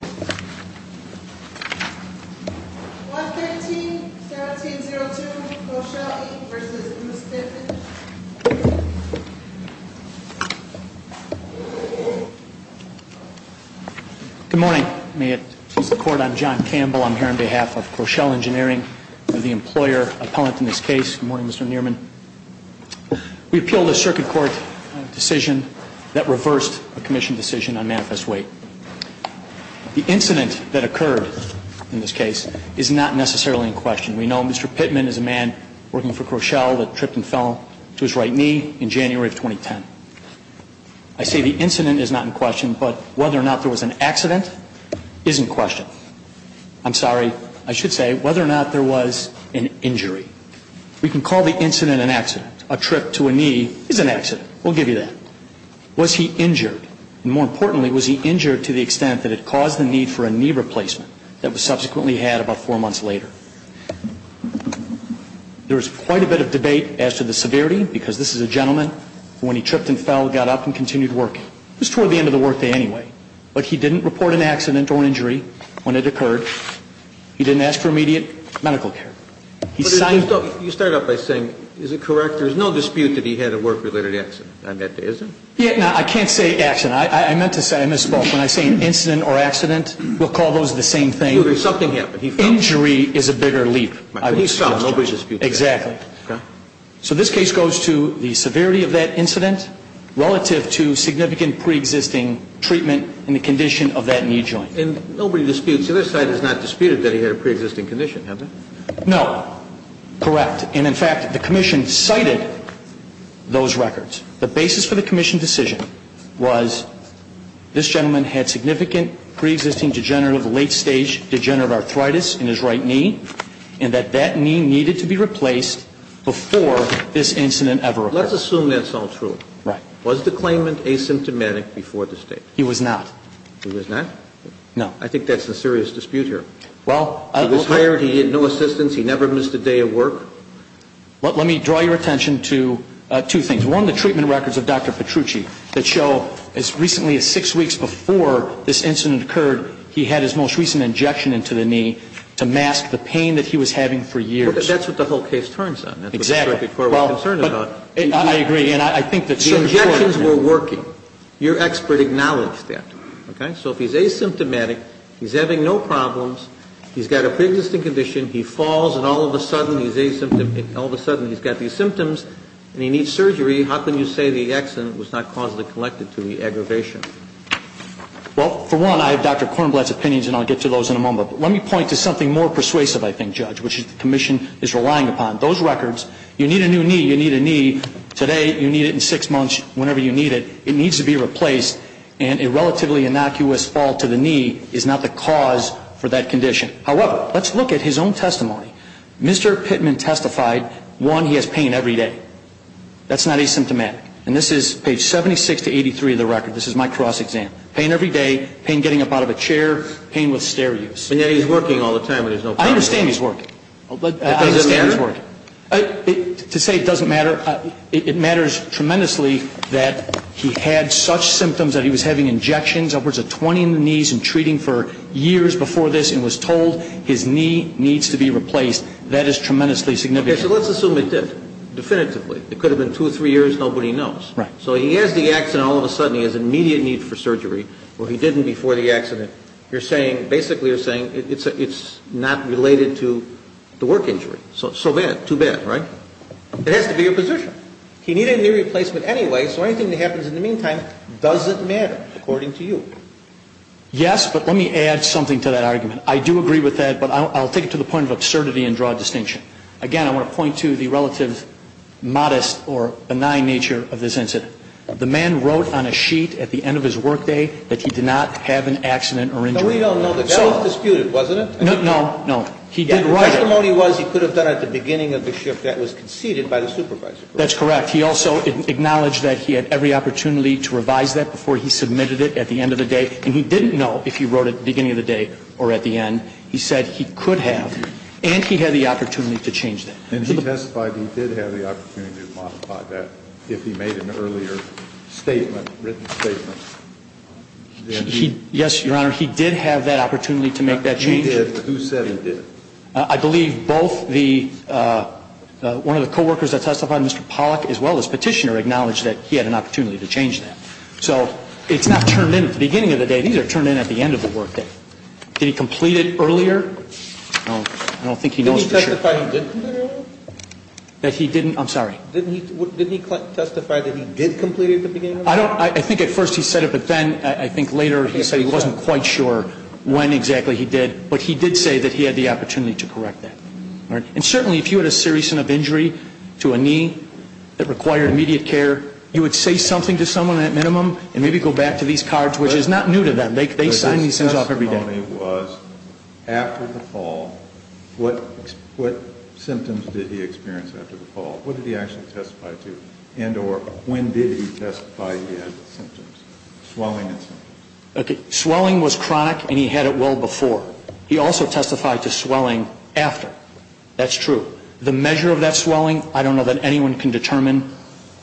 Good morning. May it please the Court, I'm John Campbell. I'm here on behalf of Kroeschell Engineering. I'm the employer appellant in this case. Good morning, Mr. Nierman. We appeal this Circuit Court decision that reversed a Commission decision on manifest weight. The incident that occurred in this case is not necessarily in question. We know Mr. Pittman is a man working for Kroeschell that tripped and fell to his right knee in January of 2010. I say the incident is not in question, but whether or not there was an accident is in question. I'm sorry, I should say whether or not there was an injury. We can call the accident. We'll give you that. Was he injured? And more importantly, was he injured to the extent that it caused the need for a knee replacement that was subsequently had about four months later? There is quite a bit of debate as to the severity, because this is a gentleman who, when he tripped and fell, got up and continued working. It was toward the end of the work day anyway. But he didn't report an accident or injury when it occurred. He didn't ask for immediate medical care. He signed up. You start out by saying, is it correct? There is no dispute that he had a work-related accident. I meant, is there? Yeah. No, I can't say accident. I meant to say I misspoke. When I say an incident or accident, we'll call those the same thing. Something happened. He fell. Injury is a bigger leap. He fell. Nobody disputes that. Exactly. Okay. So this case goes to the severity of that incident relative to significant preexisting treatment and the condition of that knee joint. And nobody disputes. The other side has not disputed that he had a preexisting condition, have they? No. Correct. And, in fact, the Commission cited those records. The basis for the Commission decision was this gentleman had significant preexisting degenerative late-stage degenerative arthritis in his right knee and that that knee needed to be replaced before this incident ever occurred. Let's assume that's all true. Right. Was the claimant asymptomatic before this date? He was not. He was not? No. I think that's a serious dispute here. Well, I How did he get a preexisting condition? He had no assistance. He never missed a day of work. Let me draw your attention to two things. One, the treatment records of Dr. Petrucci that show as recently as six weeks before this incident occurred, he had his most recent injection into the knee to mask the pain that he was having for years. That's what the whole case turns on. Exactly. That's what the circuit court was concerned about. I agree. And I think that's true. The injections were working. Your expert acknowledged that. Okay? So if he's asymptomatic, he's having no problems, he's got a preexisting condition, he falls and all of a sudden he's got these symptoms and he needs surgery, how can you say the accident was not causally connected to the aggravation? Well, for one, I have Dr. Kornblatt's opinions and I'll get to those in a moment. Let me point to something more persuasive, I think, Judge, which the commission is relying upon. Those records, you need a new knee, you need a knee today, you need it in six months, whenever you need it, it needs to be replaced. And a relatively innocuous fall to the knee is not the cause for that condition. However, let's look at his own testimony. Mr. Pittman testified, one, he has pain every day. That's not asymptomatic. And this is page 76 to 83 of the record. This is my cross-exam. Pain every day, pain getting up out of a chair, pain with stair use. But yet he's working all the time and there's no pain. I understand he's working. But does it matter? To say it doesn't matter, it matters tremendously that he had such symptoms that he was having injections, upwards of 20 in the knees, and treating for years before this, and was told his knee needs to be replaced. That is tremendously significant. Okay, so let's assume it did, definitively. It could have been two or three years, nobody knows. Right. So he has the accident, all of a sudden he has an immediate need for surgery, or he didn't before the accident. You're saying, basically you're saying it's not related to the work injury. So bad, too bad, right? It has to be your position. He needed a knee replacement anyway, so anything that happens in the meantime doesn't matter, according to you. Yes, but let me add something to that argument. I do agree with that, but I'll take it to the point of absurdity and draw a distinction. Again, I want to point to the relative modest or benign nature of this incident. The man wrote on a sheet at the end of his workday that he did not have an accident or injury. No, we don't know that. That was disputed, wasn't it? No, no, no. He did write it. The testimony was he could have done it at the beginning of the shift that was conceded by the supervisor. That's correct. He also acknowledged that he had every opportunity to revise that before he submitted it at the end of the day, and he didn't know if he wrote it at the beginning of the day or at the end. He said he could have, and he had the opportunity to change that. And he testified he did have the opportunity to modify that if he made an earlier statement, written statement. Yes, Your Honor, he did have that opportunity to make that change. He did, but who said he did? I believe both the one of the coworkers that testified, Mr. Pollack, as well as Petitioner acknowledged that he had an opportunity to change that. So it's not turned in at the beginning of the day. These are turned in at the end of the workday. Did he complete it earlier? I don't think he knows for sure. Didn't he testify he did complete it earlier? That he didn't? I'm sorry. Didn't he testify that he did complete it at the beginning of the day? I don't know. I think at first he said it, but then I think later he said he wasn't quite sure when exactly he did, but he did say that he had the opportunity to correct that. And certainly if you had a serious enough injury to a knee that required immediate care, you would say something to someone at minimum and maybe go back to these cards, which is not new to them. They sign these things off every day. His testimony was after the fall, what symptoms did he experience after the fall? What did he actually testify to? Swelling and symptoms. Swelling was chronic and he had it well before. He also testified to swelling after. That's true. The measure of that swelling, I don't know that anyone can determine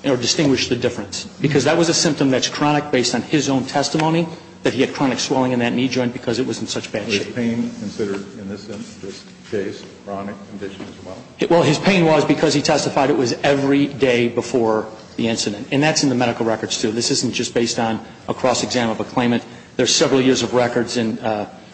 or distinguish the difference, because that was a symptom that's chronic based on his own testimony that he had chronic swelling in that knee joint because it was in such bad shape. Was pain considered in this case chronic condition as well? Well, his pain was because he testified it was every day before the incident. And that's in the medical records, too. This isn't just based on a cross-exam of a claimant. There are several years of records in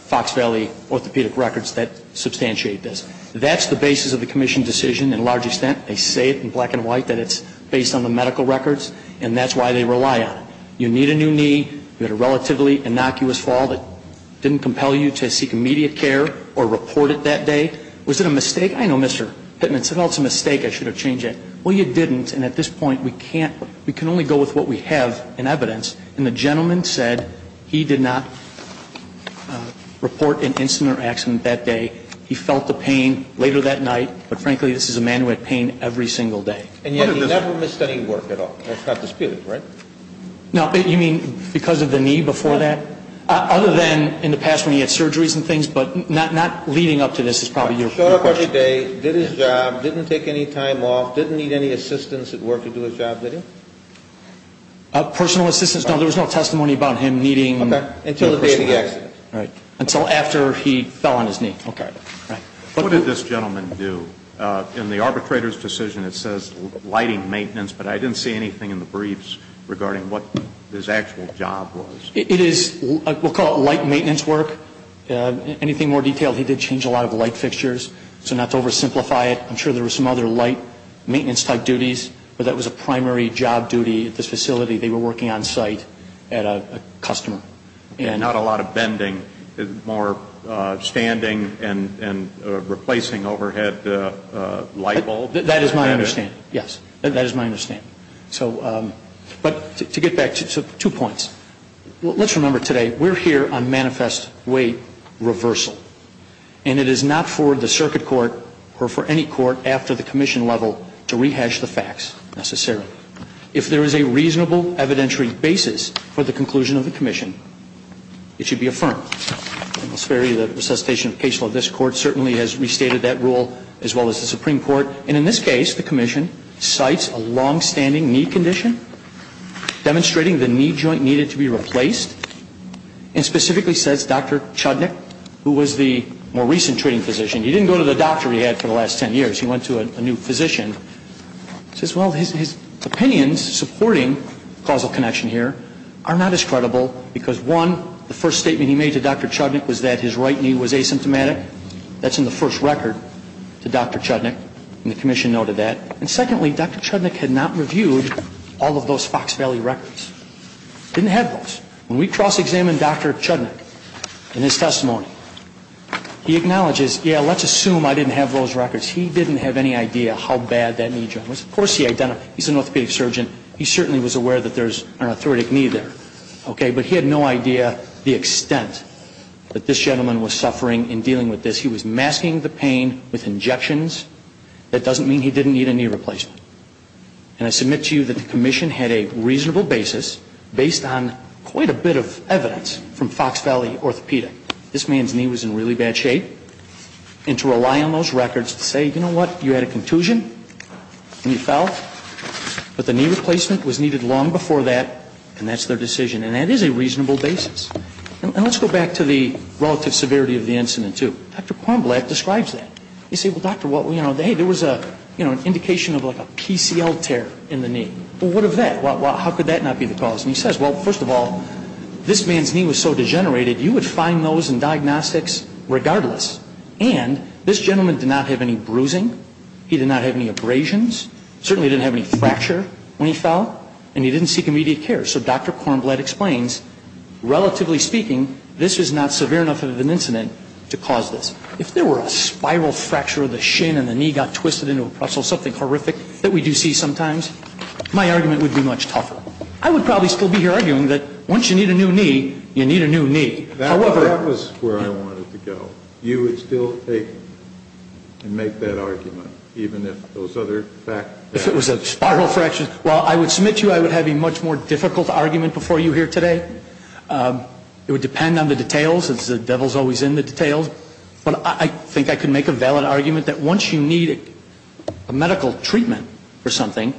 Fox Valley orthopedic records that substantiate this. That's the basis of the commission decision in a large extent. They say it in black and white that it's based on the medical records, and that's why they rely on it. You need a new knee, you had a relatively innocuous fall that didn't compel you to seek immediate care or report it that day. Was it a mistake? I know Mr. Pittman said, oh, it's a mistake, I should have changed it. Well, you didn't, and at this point we can't, we can only go with what we have in evidence. And the gentleman said he did not report an incident or accident that day. He felt the pain later that night. But frankly, this is a man who had pain every single day. And yet he never missed any work at all. That's not disputed, right? No. You mean because of the knee before that? Other than in the past when he had surgeries and things, but not leading up to this is probably your question. Did he do his job that day? Did his job, didn't take any time off, didn't need any assistance at work to do his job, did he? Personal assistance, no. There was no testimony about him needing personal assistance. Okay. Until the day of the accident. Right. Until after he fell on his knee. Okay. Right. What did this gentleman do? In the arbitrator's decision it says lighting maintenance, but I didn't see anything in the briefs regarding what his actual job was. It is, we'll call it light maintenance work. Anything more detailed, he did change a lot of light fixtures. So not to oversimplify it, I'm sure there were some other light maintenance type duties, but that was a primary job duty at this facility. They were working on site at a customer. Not a lot of bending. More standing and replacing overhead light bulbs. That is my understanding. Yes. That is my understanding. But to get back, two points. Let's remember today, we're here on manifest weight reversal. And it is not for the circuit court or for any court after the commission level to rehash the facts necessarily. If there is a reasonable evidentiary basis for the conclusion of the commission, it should be affirmed. I'll spare you the resuscitation of case law. This court certainly has restated that rule as well as the Supreme Court. And in this case, the commission cites a longstanding knee condition, demonstrating the knee joint needed to be replaced, and specifically says Dr. Chudnik, who was the more recent treating physician. He didn't go to the doctor he had for the last 10 years. He went to a new physician. He says, well, his opinions supporting causal connection here are not as credible because, one, the first statement he made to Dr. Chudnik was that his right knee was asymptomatic. That's in the first record to Dr. Chudnik. And the commission noted that. And secondly, Dr. Chudnik had not reviewed all of those Fox Valley records. Didn't have those. When we cross-examined Dr. Chudnik in his testimony, he acknowledges, yeah, let's assume I didn't have those records. He didn't have any idea how bad that knee joint was. Of course he identified it. He's an orthopedic surgeon. He certainly was aware that there's an arthritic knee there. Okay. But he had no idea the extent that this gentleman was suffering in dealing with this. He was masking the pain with injections. That doesn't mean he didn't need a knee replacement. And I submit to you that the commission had a reasonable basis based on quite a bit of evidence from Fox Valley Orthopedic. This man's knee was in really bad shape. And to rely on those records to say, you know what, you had a contusion and you fell. But the knee replacement was needed long before that, and that's their decision. And that is a reasonable basis. And let's go back to the relative severity of the incident, too. Dr. Quamblack describes that. He said, well, doctor, hey, there was an indication of like a PCL tear in the knee. Well, what of that? How could that not be the cause? And he says, well, first of all, this man's knee was so degenerated you would find those in diagnostics regardless. And this gentleman did not have any bruising. He did not have any abrasions. Certainly didn't have any fracture when he fell. And he didn't seek immediate care. So Dr. Quamblack explains, relatively speaking, this is not severe enough of an incident to cause this. If there were a spiral fracture of the shin and the knee got twisted into a pretzel, something horrific that we do see sometimes, my argument would be much tougher. I would probably still be here arguing that once you need a new knee, you need a new knee. However, that was where I wanted to go. You would still take and make that argument, even if those other facts? If it was a spiral fracture, well, I would submit to you I would have a much more difficult argument before you here today. It would depend on the details. The devil's always in the details. But I think I could make a valid argument that once you need a medical treatment for something,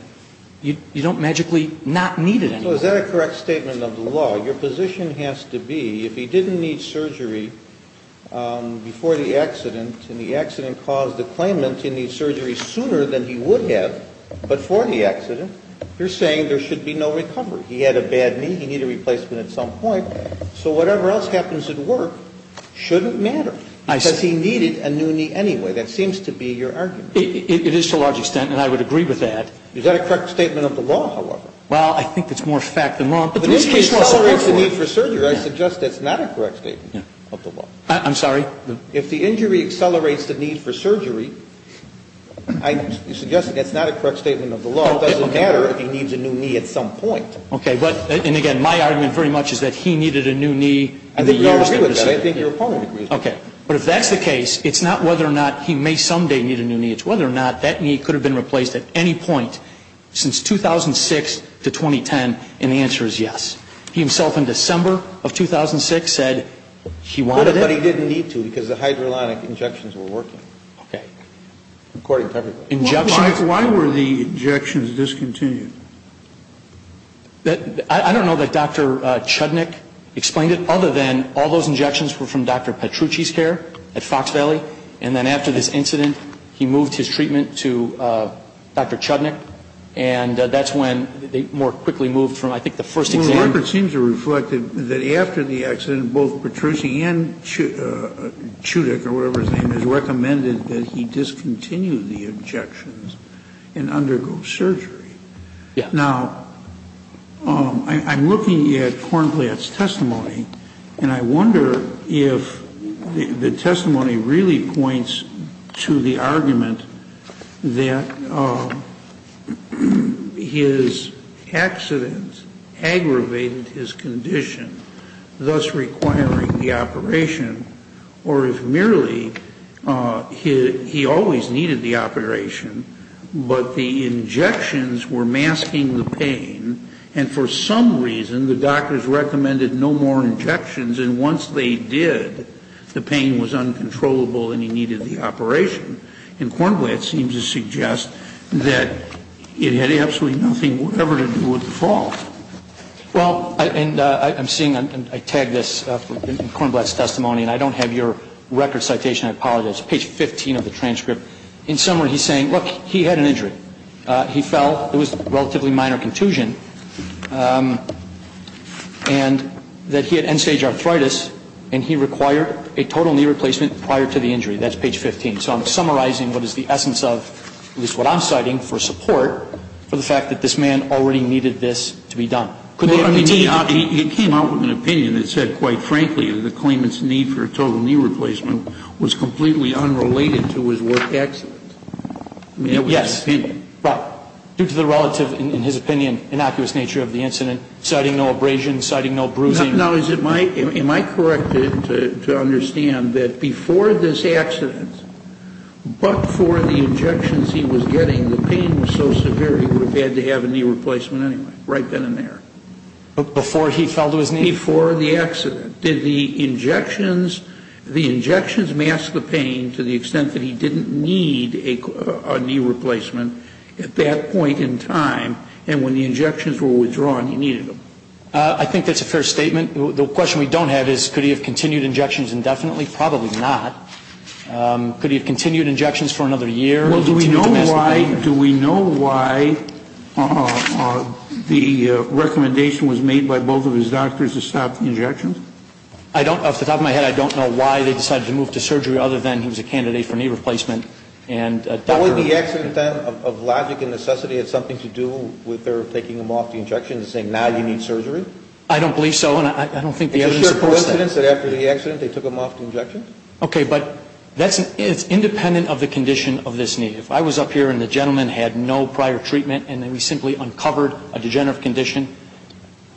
you don't magically not need it anymore. So is that a correct statement of the law? Your position has to be if he didn't need surgery before the accident and the accident caused the claimant to need surgery sooner than he would have before the accident, you're saying there should be no recovery. He had a bad knee. He needed a replacement at some point. So whatever else happens at work shouldn't matter because he needed a new knee anyway. That seems to be your argument. It is to a large extent, and I would agree with that. Is that a correct statement of the law, however? Well, I think it's more fact than law. But the injury accelerates the need for surgery. I suggest that's not a correct statement of the law. I'm sorry? If the injury accelerates the need for surgery, I'm suggesting that's not a correct statement of the law. It doesn't matter if he needs a new knee at some point. Okay. And again, my argument very much is that he needed a new knee in the years that preceded him. I agree with that. I think your opponent agrees with that. Okay. But if that's the case, it's not whether or not he may someday need a new knee. It's whether or not that knee could have been replaced at any point since 2006 to 2010, and the answer is yes. He himself in December of 2006 said he wanted it. But he didn't need to because the hydrolytic injections were working. Okay. According to everybody. Injections. Why were the injections discontinued? I don't know that Dr. Chudnick explained it, other than all those injections were from Dr. Petrucci's care at Fox Valley, and then after this incident, he moved his treatment to Dr. Chudnick, and that's when they more quickly moved from, I think, the first exam. Well, the record seems to reflect that after the accident, both Petrucci and Chudick or whatever his name is, recommended that he discontinue the injections and undergo surgery. Now, I'm looking at Kornblatt's testimony, and I wonder if the testimony really points to the argument that his accident aggravated his condition, thus requiring the operation, or if merely he always needed the operation, but the injections were masking the pain, and for some reason, the doctors recommended no more injections, and once they did, the pain was uncontrollable and he needed the operation. And Kornblatt seems to suggest that it had absolutely nothing whatever to do with the fall. Well, and I'm seeing, and I tag this in Kornblatt's testimony, and I don't have your record citation. I apologize. Page 15 of the transcript. In summary, he's saying, look, he had an injury. He fell. It was a relatively minor contusion. And that he had end-stage arthritis, and he required a total knee replacement prior to the injury. That's page 15. So I'm summarizing what is the essence of at least what I'm citing for support for the fact that this man already needed this to be done. Could there be a need? He came out with an opinion that said, quite frankly, the claimant's need for a total knee replacement was completely unrelated to his work accident. Yes. Due to the relative, in his opinion, innocuous nature of the incident, citing no abrasion, citing no bruising. Now, is it my, am I corrected to understand that before this accident, but for the injections he was getting, the pain was so severe he would have had to have a knee replacement anyway, right then and there. Before he fell to his knees? Before the accident. Did the injections, the injections mask the pain to the extent that he didn't need a knee replacement at that point in time, and when the injections were withdrawn he needed them? I think that's a fair statement. The question we don't have is could he have continued injections indefinitely? Probably not. Could he have continued injections for another year? Well, do we know why, do we know why the recommendation was made by both of his doctors to stop the injections? I don't, off the top of my head, I don't know why they decided to move to surgery other than he was a candidate for knee replacement. But wouldn't the accident then, of logic and necessity, have something to do with their taking him off the injections and saying now you need surgery? I don't believe so, and I don't think the evidence supports that. Is it a coincidence that after the accident they took him off the injections? Okay, but that's, it's independent of the condition of this knee. If I was up here and the gentleman had no prior treatment and we simply uncovered a degenerative condition,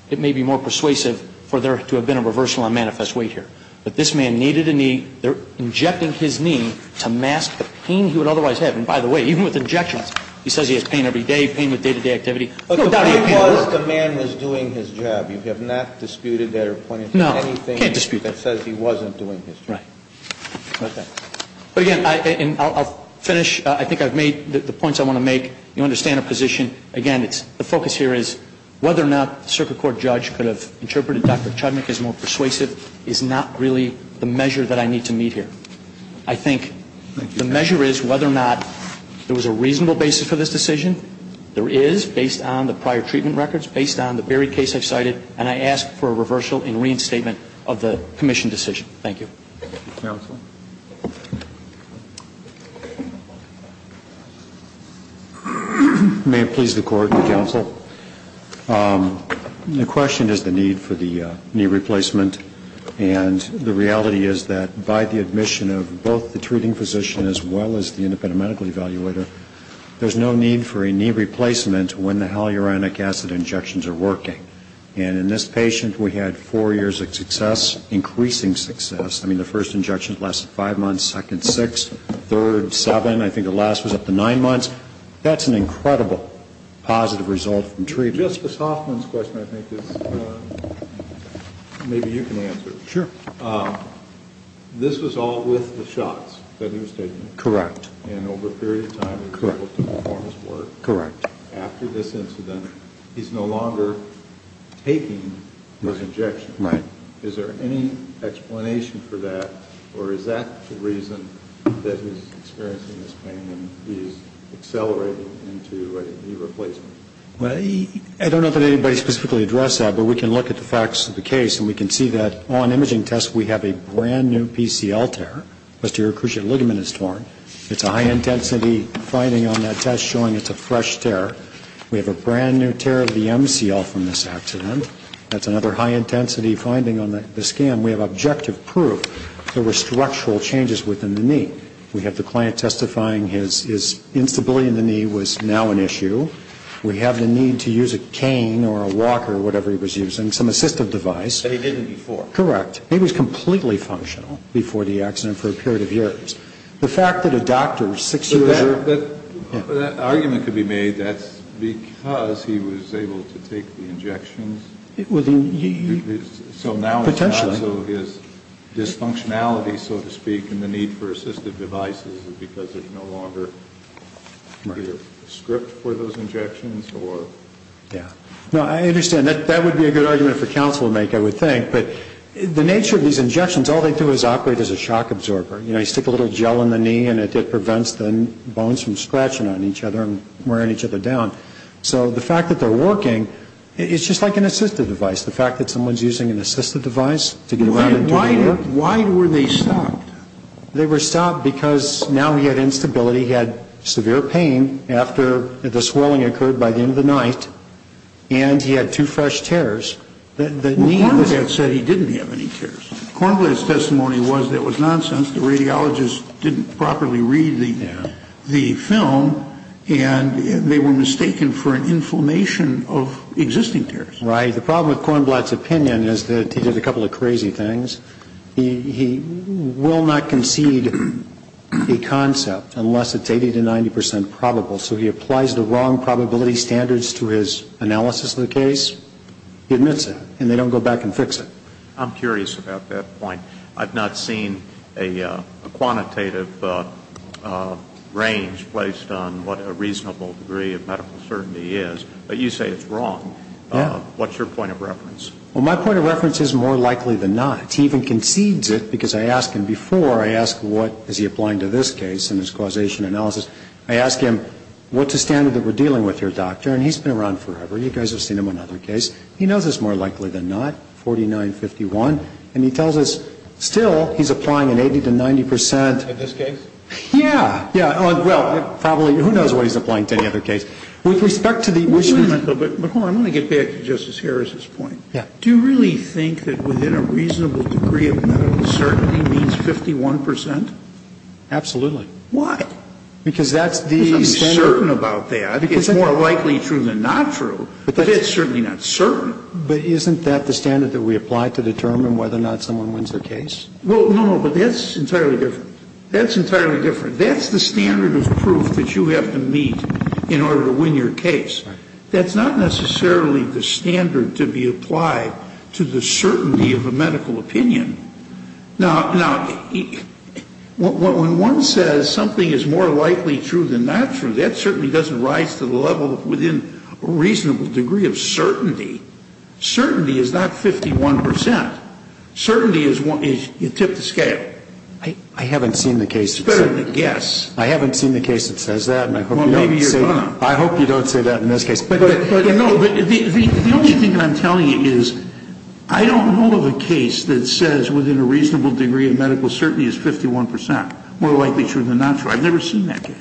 it may be more persuasive for there to have been a reversal on manifest weight here. But this man needed a knee. They're injecting his knee to mask the pain he would otherwise have. And by the way, even with injections, he says he has pain every day, pain with day-to-day activity. But the point was the man was doing his job. You have not disputed that or pointed to anything that says he wasn't doing his job. Right. Okay. But again, I'll finish. I think I've made the points I want to make. You understand our position. Again, the focus here is whether or not the circuit court judge could have interpreted Dr. Chudnik as more persuasive is not really the measure that I need to meet here. I think the measure is whether or not there was a reasonable basis for this decision. There is, based on the prior treatment records, based on the Berry case I've cited, and I ask for a reversal and reinstatement of the commission decision. Thank you. Thank you, counsel. May it please the court and counsel, the question is the need for the knee replacement. And the reality is that by the admission of both the treating physician as well as the independent medical evaluator, there's no need for a knee replacement when the hyaluronic acid injections are working. And in this patient, we had four years of success, increasing success. I mean, the first injection lasted five months, second, six, third, seven. I think the last was up to nine months. That's an incredible positive result from treatment. Justice Hoffman's question, I think, is maybe you can answer it. Sure. This was all with the shots that he was taking. Correct. And over a period of time, he was able to perform his work. Correct. After this incident, he's no longer taking those injections. Right. Is there any explanation for that, or is that the reason that he's experiencing this pain when he's accelerating into a knee replacement? Well, I don't know that anybody specifically addressed that, but we can look at the facts of the case and we can see that on imaging tests, we have a brand-new PCL tear. The posterior cruciate ligament is torn. It's a high-intensity finding on that test showing it's a fresh tear. We have a brand-new tear of the MCL from this accident. That's another high-intensity finding on the scan. We have objective proof there were structural changes within the knee. We have the client testifying his instability in the knee was now an issue. We have the need to use a cane or a walker or whatever he was using, some assistive device. But he didn't before. Correct. He was completely functional before the accident for a period of years. The fact that a doctor six years earlier was able to take the injections so now it's not so his dysfunctionality, so to speak, and the need for assistive devices is because there's no longer a script for those injections or? Yeah. No, I understand. That would be a good argument for counsel to make, I would think. But the nature of these injections, all they do is operate as a shock absorber. You know, you stick a little gel in the knee and it prevents the bones from scratching on each other and wearing each other down. So the fact that they're working, it's just like an assistive device. The fact that someone's using an assistive device to get around and do the work. Why were they stopped? They were stopped because now he had instability. He had severe pain after the swelling occurred by the end of the night. And he had two fresh tears. Well, Cornblatt said he didn't have any tears. Cornblatt's testimony was that it was nonsense. The radiologist didn't properly read the film. And they were mistaken for an inflammation of existing tears. Right. The problem with Cornblatt's opinion is that he did a couple of crazy things. He will not concede a concept unless it's 80 to 90 percent probable. So he applies the wrong probability standards to his analysis of the case. He admits it. And they don't go back and fix it. I'm curious about that point. I've not seen a quantitative range placed on what a reasonable degree of medical certainty is. But you say it's wrong. Yeah. What's your point of reference? Well, my point of reference is more likely than not. He even concedes it because I ask him before, I ask what is he applying to this case and his causation analysis. I ask him, what's the standard that we're dealing with here, doctor? And he's been around forever. You guys have seen him in other cases. He knows it's more likely than not, 49-51. And he tells us still he's applying an 80 to 90 percent. In this case? Yeah. Yeah. Well, probably. Who knows what he's applying to any other case? With respect to the issue. But hold on. I want to get back to Justice Harris's point. Yeah. Do you really think that within a reasonable degree of medical certainty means 51 percent? Absolutely. Why? Because that's the standard. Because I'm certain about that. It's more likely true than not true. But it's certainly not certain. But isn't that the standard that we apply to determine whether or not someone wins their case? Well, no, no. But that's entirely different. That's entirely different. That's the standard of proof that you have to meet in order to win your case. That's not necessarily the standard to be applied to the certainty of a medical opinion. Now, when one says something is more likely true than not true, that certainly doesn't rise to the level within a reasonable degree of certainty. Certainty is not 51 percent. Certainty is you tip the scale. I haven't seen the case. It's better than a guess. I haven't seen the case that says that. Well, maybe you're going to. I hope you don't say that in this case. But, you know, the only thing that I'm telling you is I don't know of a case that says within a reasonable degree of medical certainty is 51 percent, more likely true than not true. I've never seen that case.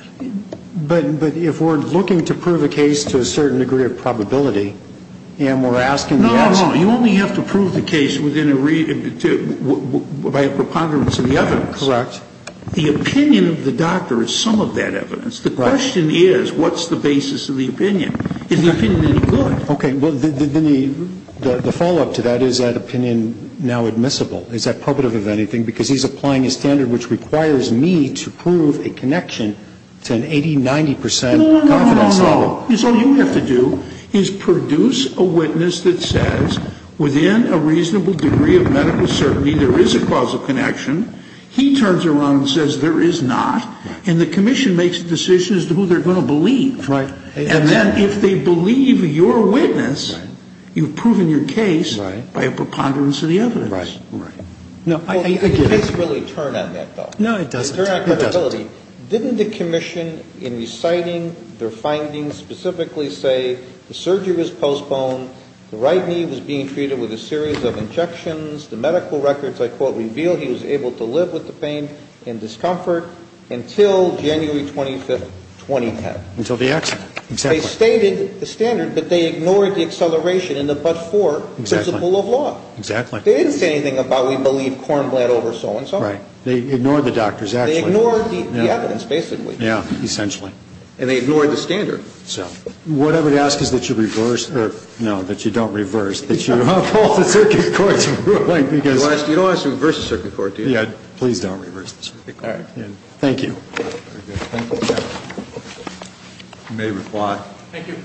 But if we're looking to prove a case to a certain degree of probability and we're asking the answer. No, no. You only have to prove the case by a preponderance of the evidence. Correct. The opinion of the doctor is some of that evidence. The question is what's the basis of the opinion? Is the opinion any good? Okay. Well, then the follow-up to that, is that opinion now admissible? Is that probative of anything? Well, I have to prove myself. But not the basis of the opinion because he's applying a standard which requires me to prove a connection to an 80, 90 percent confidence level. No, no, no, no. Yes, all you have to do is produce a witness that says within a reasonable degree of medical certainty there is a causal connection. He turns around and says there is not. And the commission makes the decision as to who they're going to believe. And then if they believe your witness, you've proven your case by a preponderance of the evidence. Right, right. No, I get it. Well, does the case really turn on that, though? No, it doesn't. It doesn't. Didn't the commission in reciting their findings specifically say the surgery was postponed, the right knee was being treated with a series of injections, the medical records, I quote, reveal he was able to live with the pain and discomfort until January 25th, 2010? Until the accident. Exactly. They stated the standard, but they ignored the acceleration in the but-for principle of law. Exactly. They didn't say anything about we believe Kornblatt over so-and-so. Right. They ignored the doctors, actually. They ignored the evidence, basically. Yeah, essentially. And they ignored the standard. So what I would ask is that you reverse, or no, that you don't reverse, that you uphold the circuit court's ruling because... You don't ask to reverse the circuit court, do you? Please don't reverse the circuit court. All right. Thank you. You may reply. Thank you.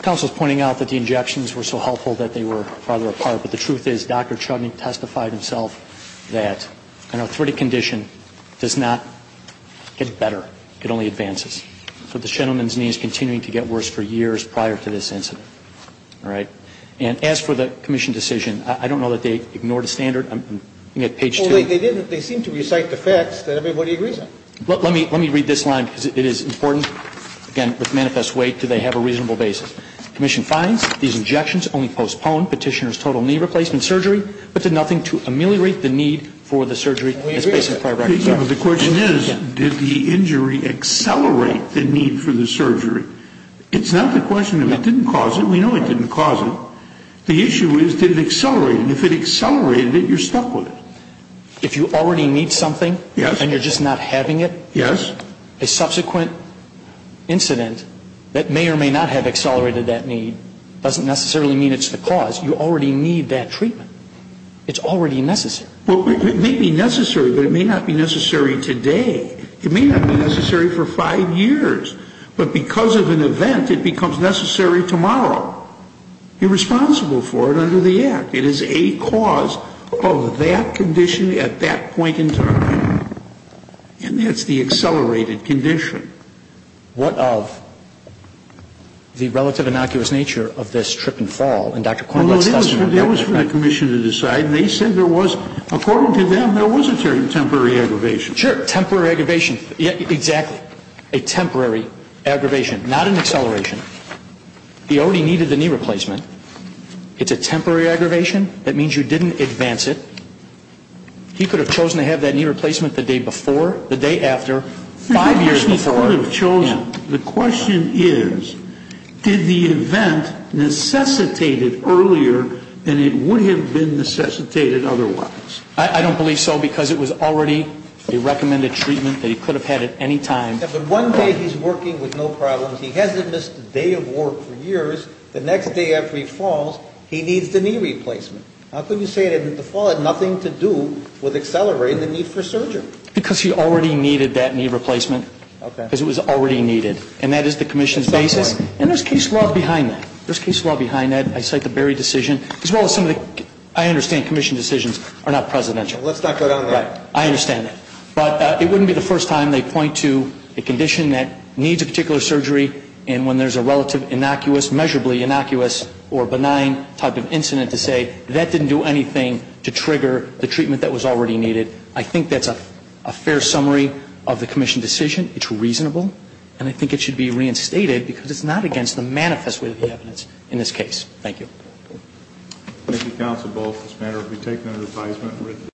Counsel is pointing out that the injections were so helpful that they were farther apart, but the truth is Dr. Chudnik testified himself that an arthritic condition does not get better, it only advances. So this gentleman's knee is continuing to get worse for years prior to this incident. All right. And as for the commission decision, I don't know that they ignored the standard. I'm looking at page 2. Well, they didn't. They seem to recite the facts that everybody agrees on. Let me read this line because it is important. Again, with manifest weight, do they have a reasonable basis? Commission finds these injections only postponed petitioner's total knee replacement surgery, but did nothing to ameliorate the need for the surgery. And we agree with that. The question is, did the injury accelerate the need for the surgery? It's not the question if it didn't cause it. We know it didn't cause it. The issue is, did it accelerate? And if it accelerated it, you're stuck with it. If you already need something. Yes. And you're just not having it. Yes. A subsequent incident that may or may not have accelerated that need doesn't necessarily mean it's the cause. You already need that treatment. It's already necessary. Well, it may be necessary, but it may not be necessary today. It may not be necessary for five years. But because of an event, it becomes necessary tomorrow. You're responsible for it under the act. It is a cause of that condition at that point in time. And that's the accelerated condition. What of the relative innocuous nature of this trip and fall? Well, that was for the commission to decide. And they said there was, according to them, there was a temporary aggravation. Sure. Temporary aggravation. Exactly. A temporary aggravation. Not an acceleration. He already needed the knee replacement. It's a temporary aggravation. That means you didn't advance it. He could have chosen to have that knee replacement the day before, the day after, five years before. He could have chosen. The question is, did the event necessitate it earlier than it would have been necessitated otherwise? I don't believe so because it was already a recommended treatment that he could have had at any time. But one day he's working with no problems. He hasn't missed a day of work for years. The next day after he falls, he needs the knee replacement. How could you say that the fall had nothing to do with accelerating the need for surgery? Because he already needed that knee replacement. Okay. Because it was already needed. And that is the commission's basis. And there's case law behind that. There's case law behind that. I cite the Berry decision as well as some of the, I understand, commission decisions are not presidential. Let's not go down that. Right. I understand that. But it wouldn't be the first time they point to a condition that needs a reasonably innocuous or benign type of incident to say that didn't do anything to trigger the treatment that was already needed. I think that's a fair summary of the commission decision. It's reasonable. And I think it should be reinstated because it's not against the manifest way of the evidence in this case. Thank you. Thank you, counsel. Both this matter will be taken under advisement.